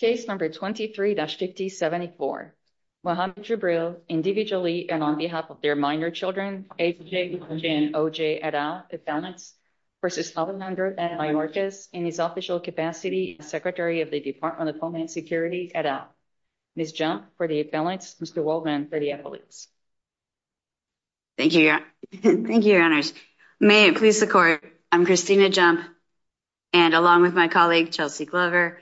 Case number 23-50-74, Mohamed Jibril, individually and on behalf of their minor children, H.J. and O.J. Adah, at balance, versus Alejandro Mayorkas in his official capacity as Secretary of the Department of Homeland Security, Adah. Ms. Jump, for the at balance, Mr. Waldman, for the affiliates. Thank you, your, thank you, your honors. May it please the court, I'm Christina Jump, and along with my colleague, Chelsea Glover,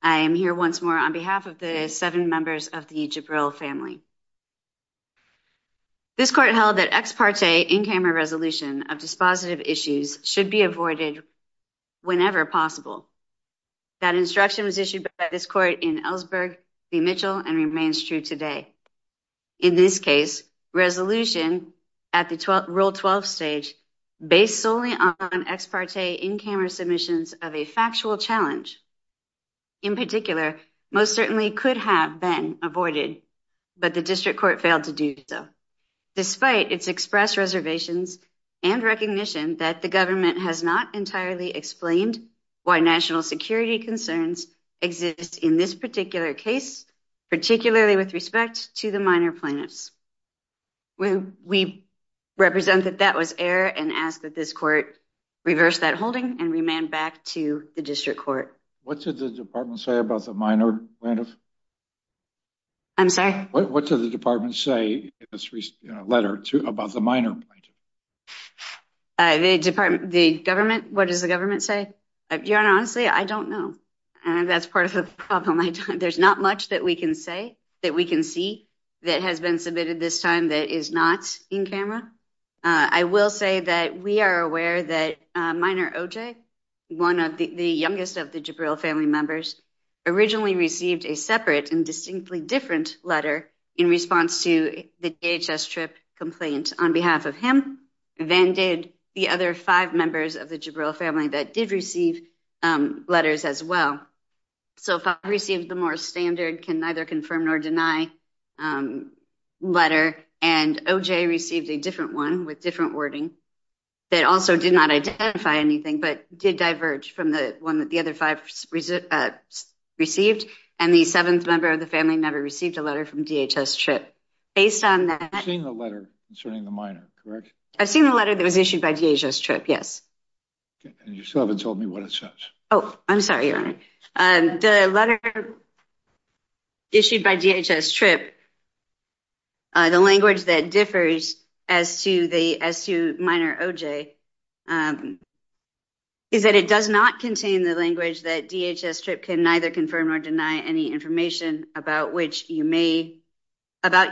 I am here once more on behalf of the seven members of the Jibril family. This court held that ex parte in-camera resolution of dispositive issues should be avoided whenever possible. That instruction was issued by this court in Ellsberg v. Mitchell and remains true today. In this case, resolution at the Rule 12 stage, based solely on ex parte in-camera submissions of a factual challenge, in particular, most certainly could have been avoided, but the district court failed to do so, despite its express reservations and recognition that the government has not entirely explained why national security concerns exist in this particular case, particularly with respect to the minor plaintiffs. We represent that that was error and ask that this court reverse that holding and remand back to the district court. What did the department say about the minor plaintiff? I'm sorry? What did the department say in this recent letter about the minor plaintiff? The department, the government, what does the government say? Your honor, honestly, I don't know. That's part of the problem. There's not much that we can say, that we can see, that has been submitted this time that is not in-camera. I will say that we are aware that minor OJ, one of the youngest of the Jabril family members, originally received a separate and distinctly different letter in response to the DHS trip complaint. On behalf of him, Van did the other five members of the Jabril family that did receive letters as well. So if I received the more standard, can neither confirm nor deny letter, and OJ received a different one with different wording that also did not identify anything, but did diverge from the one that the other five received. And the seventh member of the family never received a letter from DHS trip. Based on that- I've seen the letter concerning the minor, correct? I've seen the letter that was issued by DHS trip, yes. Okay, and you still haven't told me what it says. Oh, I'm sorry, your honor. The letter issued by DHS trip, the language that differs as to minor OJ is that it does not contain the language that DHS trip can neither confirm or deny any information about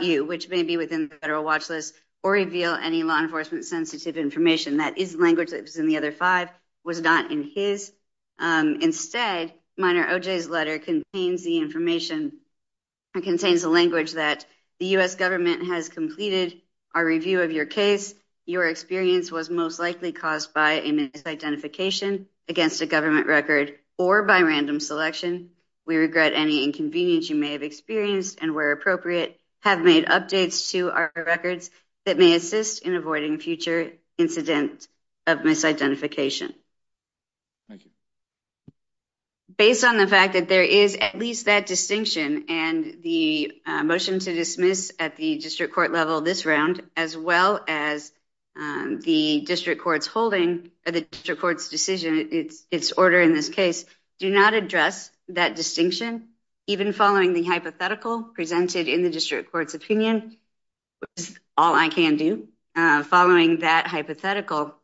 you, which may be within the federal watch list or reveal any law enforcement sensitive information. That is language that was in the other five, was not in his. Instead, minor OJ's letter contains the information, it contains the language that the U.S. government has completed our review of your case. Your experience was most likely caused by a misidentification against a government record or by random selection. We regret any inconvenience you may have experienced and where appropriate have made updates to our records that may assist in avoiding future incident of misidentification. Thank you. Based on the fact that there is at least that distinction and the motion to dismiss at the district court level this round, as well as the district court's holding or the district court's decision, its order in this case, do not address that distinction, even following the hypothetical presented in the district court's opinion, which is all I can do, following that hypothetical,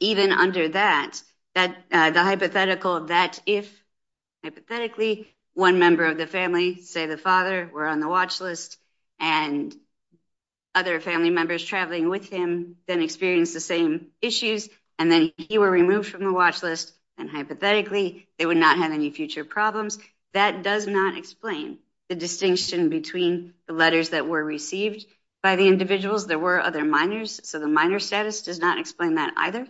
even under that, the hypothetical that if, hypothetically, one member of the family, say the father, were on the watch list and other family members traveling with him then experienced the same issues, and then he were removed from the watch list, and hypothetically, they would not have any future problems. That does not explain the distinction between the letters that were received by the individuals. There were other minors, so the minor status does not explain that either,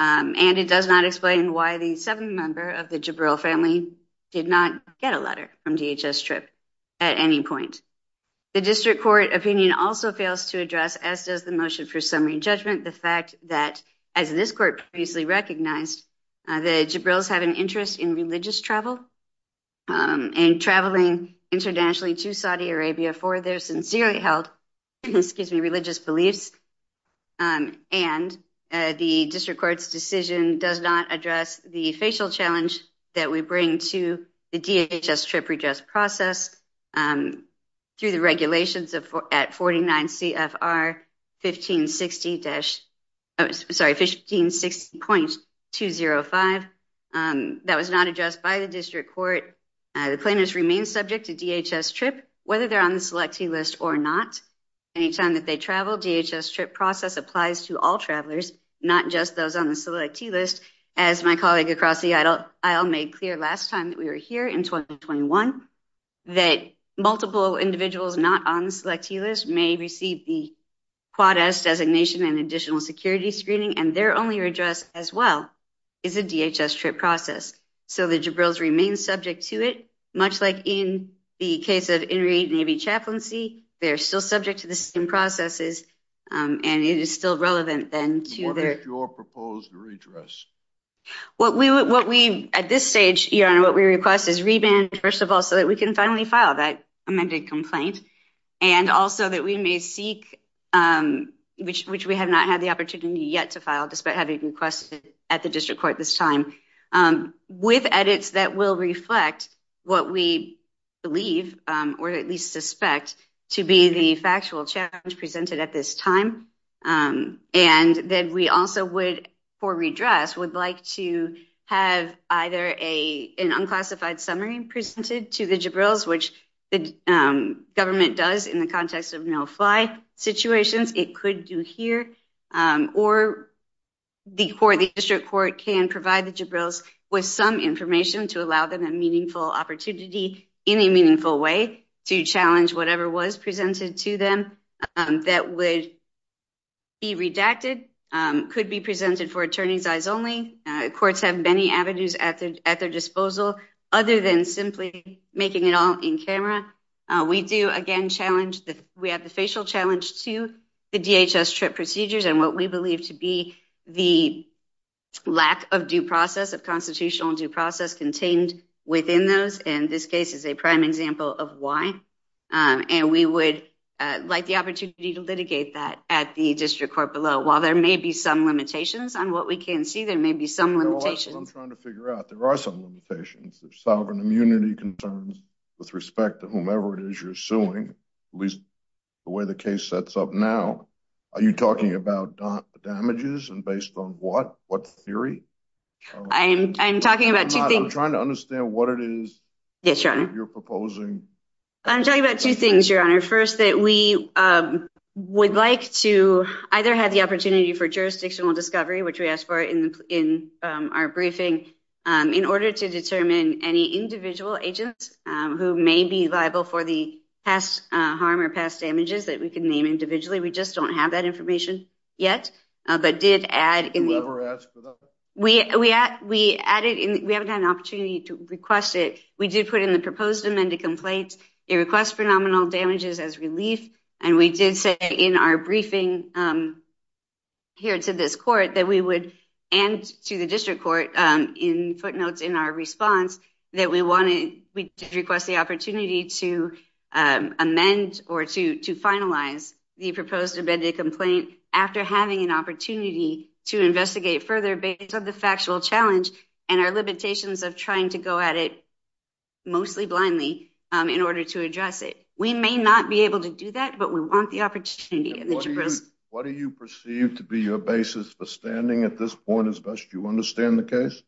and it does not explain why the seventh member of the Jabril family did not get a letter from DHS TRIP at any point. The district court opinion also fails to address, as does the motion for summary judgment, the fact that, as this court previously recognized, the Jabrils have an interest in religious travel and traveling internationally to Saudi Arabia for their sincerely held, excuse me, religious beliefs, and the district court's decision does not address the facial challenge that we bring to the DHS TRIP redress process through the regulations at 49 CFR 1560 dash, oh, sorry, 1560.205. That was not addressed by the district court. The claimants remain subject to DHS TRIP, whether they're on the selectee list or not. Anytime that they travel, DHS TRIP process applies to all travelers, not just those on the selectee list, as my colleague across the aisle made clear last time that we were here in 2021, that multiple individuals not on the selectee list may receive the Quad S designation and additional security screening, and their only redress as well is a DHS TRIP process. So the Jabrils remain subject to it, much like in the case of Enrique Navy Chaplaincy, they're still subject to the same processes, and it is still relevant then to their- What is your proposed redress? What we, at this stage, Your Honor, what we request is reband, first of all, so that we can finally file that amended complaint, and also that we may seek, which we have not had the opportunity yet to file, despite having requested at the district court this time, with edits that will reflect what we believe, or at least suspect, to be the factual challenge presented at this time, and that we also would, for redress, would like to have either an unclassified summary presented to the Jabrils, which the government does in the context of no-fly situations, it could do here, or the court, the district court, can provide the Jabrils with some information to allow them a meaningful opportunity, in a meaningful way, to challenge whatever was presented to them that would be redacted, could be presented for attorney's eyes only, courts have many avenues at their disposal, other than simply making it all in camera, we do, again, challenge, we have the facial challenge to the DHS TRIP procedures, and what we believe to be the lack of due process, of constitutional due process contained within those, and this case is a prime example of why, and we would like the opportunity to litigate that at the district court below, while there may be some limitations on what we can see, there may be some limitations. I'm trying to figure out, there are some limitations, there's sovereign immunity concerns, with respect to whomever it is you're suing, at least the way the case sets up now, are you talking about damages, and based on what, what theory? I'm talking about two things. I'm trying to understand what it is, Yes your honor. You're proposing. I'm talking about two things your honor, first that we would like to, either have the opportunity for jurisdictional discovery, which we asked for in our briefing, in order to determine any individual agents, who may be liable for the past harm, or past damages that we can name individually, we just don't have that information yet, but did add in the, Whoever asked for that? We added in, we haven't had an opportunity to request it, we did put in the proposed amended complaint, it requests for nominal damages as relief, and we did say in our briefing, here to this court, that we would, and to the district court, in footnotes in our response, that we wanted, we did request the opportunity to amend, or to finalize the proposed amended complaint, after having an opportunity to investigate further, based on the factual challenge, and our limitations of trying to go at it, mostly blindly, in order to address it. We may not be able to do that, but we want the opportunity. What do you perceive to be your basis for standing, at this point as best you understand the case?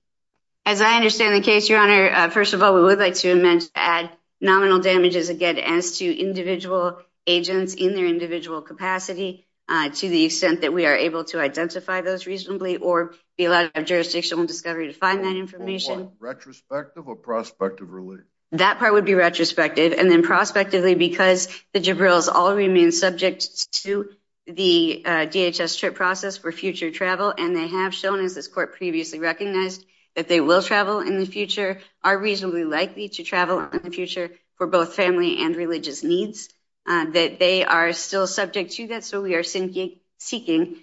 As I understand the case your honor, first of all, we would like to amend to add nominal damages, again, as to individual agents, in their individual capacity, to the extent that we are able to identify those reasonably, or be allowed a jurisdictional discovery, to find that information. Retrospective or prospective relief? That part would be retrospective, and then prospectively, because the Jabril's all remain subject to, the DHS trip process for future travel, and they have shown, as this court previously recognized, that they will travel in the future, are reasonably likely to travel in the future, for both family and religious needs, that they are still subject to that, so we are seeking in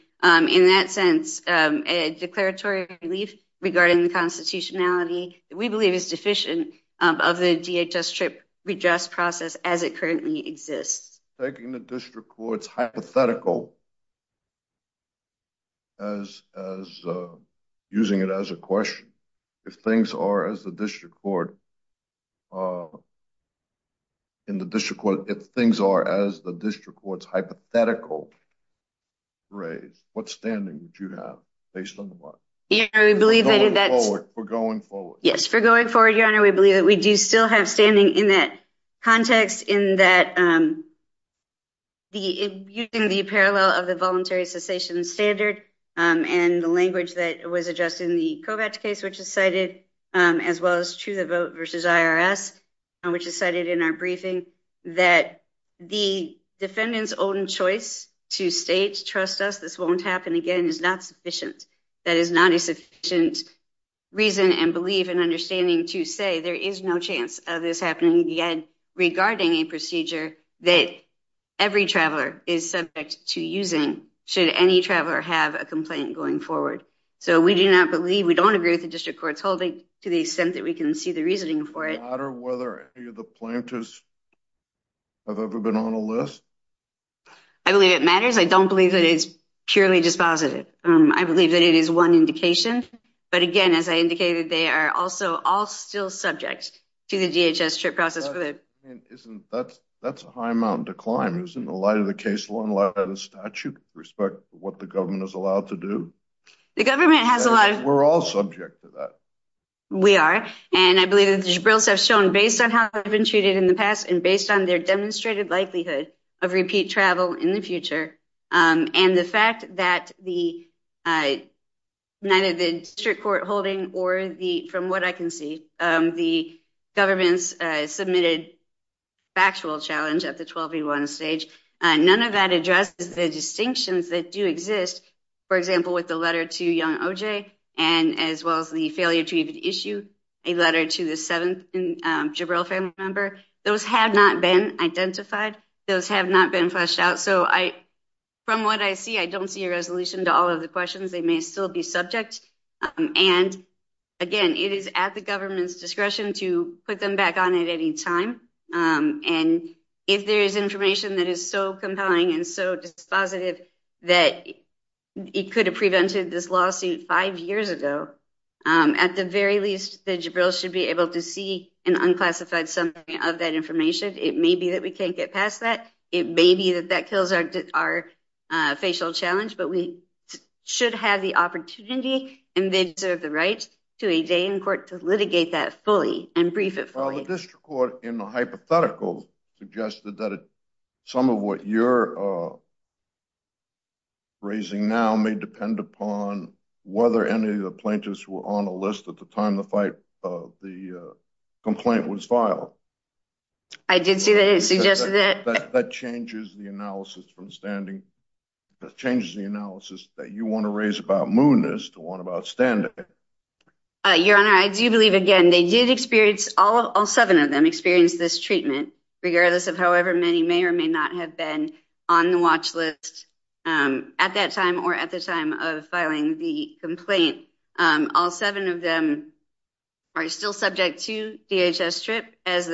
that sense, a declaratory relief regarding the constitutionality, that we believe is deficient, of the DHS trip redress process, as it currently exists. Taking the district courts hypothetical, as using it as a question, if things are as the district court, in the district court, if things are as the district courts, hypothetical raise, what standing do you have, based on the work? Yeah, I believe that. We're going forward. Yes, we're going forward your honor, we believe that we do still have standing, in that context, in that, the using the parallel, of the voluntary cessation standard, and the language that was addressed, in the Kovacs case, which is cited, as well as to the vote versus IRS, which is cited in our briefing, that the defendants own choice, to state trust us this won't happen again, is not sufficient, that is not a sufficient reason, and believe and understanding to say, there is no chance of this happening again, regarding a procedure, that every traveler is subject to using, should any traveler have a complaint going forward, so we do not believe, we don't agree with the district court's holding, to the extent that we can see the reasoning for it. Does it matter whether any of the plaintiffs, have ever been on a list? I believe it matters, I don't believe that it's purely dispositive, I believe that it is one indication, but again, as I indicated, they are also all still subject, to the DHS trip process for the. Isn't that's a high amount of decline, isn't the light of the case law, and a lot of the statute, respect what the government is allowed to do. The government has a lot of. We're all subject to that. We are, and I believe that the Jibril's have shown, based on how they've been treated in the past, and based on their demonstrated likelihood, of repeat travel in the future, and the fact that the, neither the district court holding, or the from what I can see, the government's submitted factual challenge, at the 12v1 stage, none of that addresses the distinctions that do exist, for example, with the letter to young OJ, and as well as the failure to even issue, a letter to the seventh Jibril family member, those have not been identified. Those have not been fleshed out. So I, from what I see, I don't see a resolution to all of the questions. They may still be subject. And again, it is at the government's discretion, to put them back on at any time. And if there is information that is so compelling, and so dispositive, that it could have prevented this lawsuit five years ago, at the very least, the Jibril should be able to see, an unclassified summary of that information. It may be that we can't get past that. It may be that that kills our facial challenge, but we should have the opportunity, and they deserve the right, to a day in court to litigate that fully, and brief it fully. Well, the district court in the hypothetical, suggested that some of what you're, raising now may depend upon, whether any of the plaintiffs were on a list, at the time the fight of the complaint was filed. I did see that it suggested that. That changes the analysis from standing, that changes the analysis, that you wanna raise about moodiness, to one about standing. Your honor, I do believe again, they did experience all seven of them, experienced this treatment, regardless of however many, may or may not have been on the watch list, at that time, or at the time of filing the complaint. All seven of them, are still subject to DHS trip, as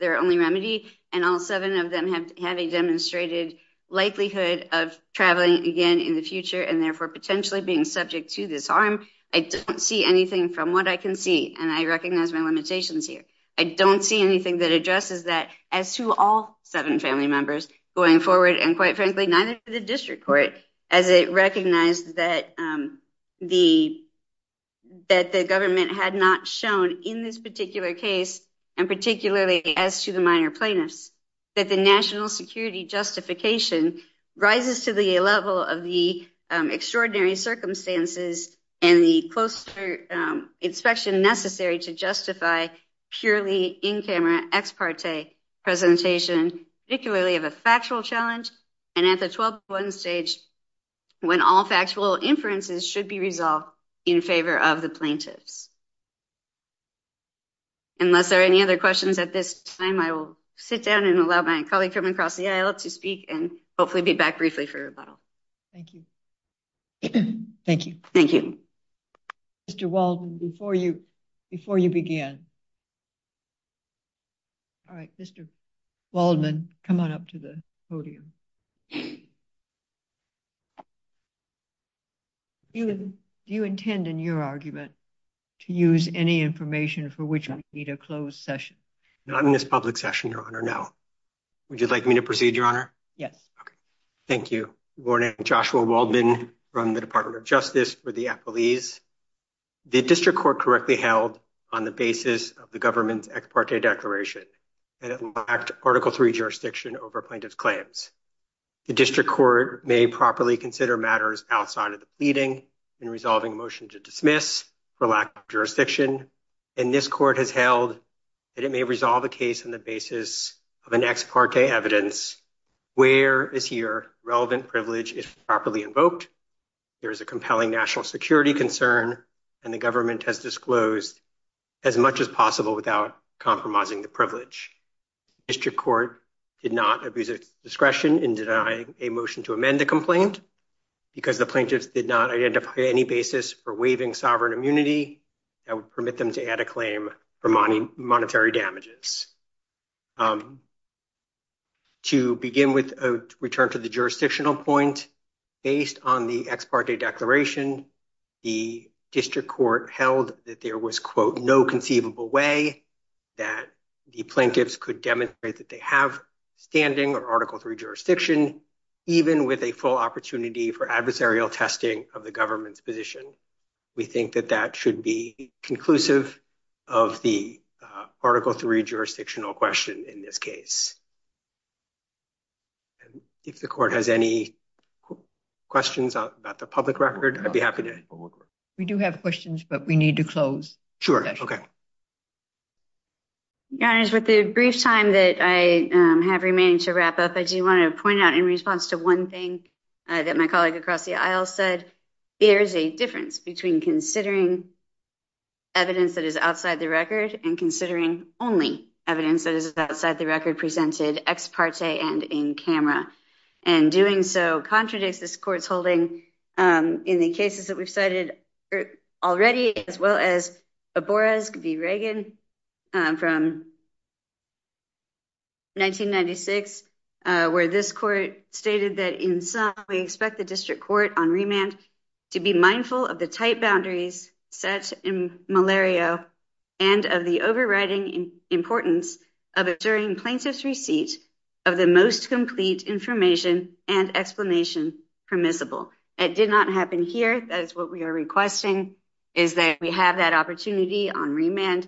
their only remedy, and all seven of them have a demonstrated, likelihood of traveling again in the future, and therefore potentially being subject to this arm. I don't see anything from what I can see, and I recognize my limitations here. I don't see anything that addresses that, as to all seven family members going forward, and quite frankly, neither for the district court, as it recognized that the government, had not shown in this particular case, and particularly as to the minor plaintiffs, that the national security justification, rises to the level of the extraordinary circumstances, and the closer inspection necessary, to justify purely in-camera ex parte presentation, particularly of a factual challenge, and at the 12.1 stage, when all factual inferences should be resolved, in favor of the plaintiffs. Unless there are any other questions at this time, I will sit down, and allow my colleague from across the aisle to speak, and hopefully be back briefly for rebuttal. Thank you. Thank you. Thank you. Mr. Waldman, before you began. All right, Mr. Waldman, come on up to the podium. Do you intend in your argument, to use any information for which we need a closed session? Not in this public session, Your Honor, no. Would you like me to proceed, Your Honor? Yes. Thank you. Good morning, I'm Joshua Waldman, from the Department of Justice for the Appellees. The District Court correctly held, on the basis of the government's ex parte declaration, that it lacked Article III jurisdiction, over plaintiff's claims. The District Court may properly consider matters, outside of the pleading, in resolving a motion to dismiss, for lack of jurisdiction. And this court has held, that it may resolve a case on the basis, of an ex parte evidence, where is here relevant privilege is properly invoked. There is a compelling national security concern, and the government has disclosed, as much as possible without compromising the privilege. District Court did not abuse its discretion, in denying a motion to amend the complaint, because the plaintiffs did not identify any basis, for waiving sovereign immunity, that would permit them to add a claim, for monetary damages. To begin with a return to the jurisdictional point, based on the ex parte declaration, the District Court held, that there was quote, no conceivable way, that the plaintiffs could demonstrate, that they have standing or Article III jurisdiction, even with a full opportunity, for adversarial testing of the government's position. We think that that should be conclusive, of the Article III jurisdiction, jurisdictional question in this case. If the court has any questions about the public record, I'd be happy to. We do have questions, but we need to close. Sure, okay. Your honors with the brief time, that I have remaining to wrap up, I do wanna point out in response to one thing, that my colleague across the aisle said, there is a difference between considering, evidence that is outside the record, and considering only evidence, that is outside the record presented ex parte, and in camera, and doing so contradicts this court's holding, in the cases that we've cited already, as well as a Boris could be Reagan, from, 1996, where this court stated that in some, we expect the District Court on remand, to be mindful of the tight boundaries, set in malaria, and of the overriding importance, of it during plaintiff's receipt, of the most complete information, and explanation permissible. It did not happen here, that is what we are requesting, is that we have that opportunity on remand,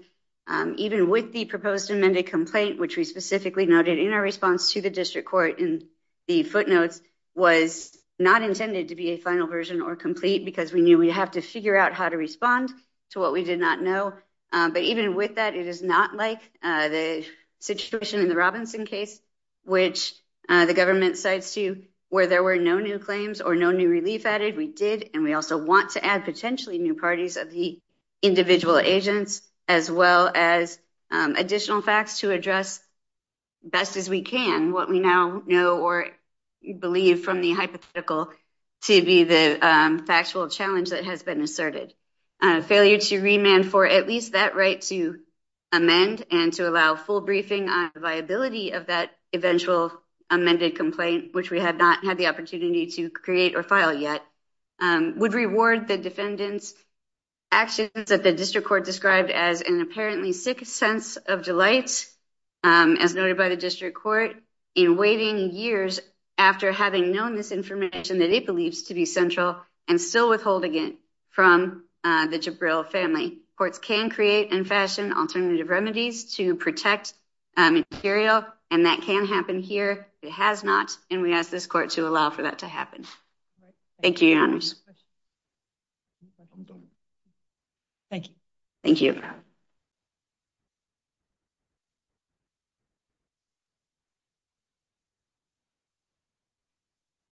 even with the proposed amended complaint, which we specifically noted in our response, to the District Court in the footnotes, was not intended to be a final version or complete, because we knew we'd have to figure out, how to respond to what we did not know, but even with that, it is not like the situation in the Robinson case, which the government cites to, where there were no new claims or no new relief added, we did, and we also want to add potentially new parties, of the individual agents, as well as additional facts, to address best as we can, what we now know or believe from the hypothetical, to be the factual challenge that has been asserted. Failure to remand for at least that right to amend, and to allow full briefing on the viability, of that eventual amended complaint, which we had not had the opportunity to create or file yet, would reward the defendant's actions, that the District Court described, as an apparently sick sense of delight, as noted by the District Court, in waiting years after having known this information, that it believes to be central, and still withholding it from the Jabril family. Courts can create and fashion alternative remedies, to protect material, and that can happen here, it has not, and we ask this court to allow for that to happen. Thank you, your honors. Thank you. Thank you. Thank you.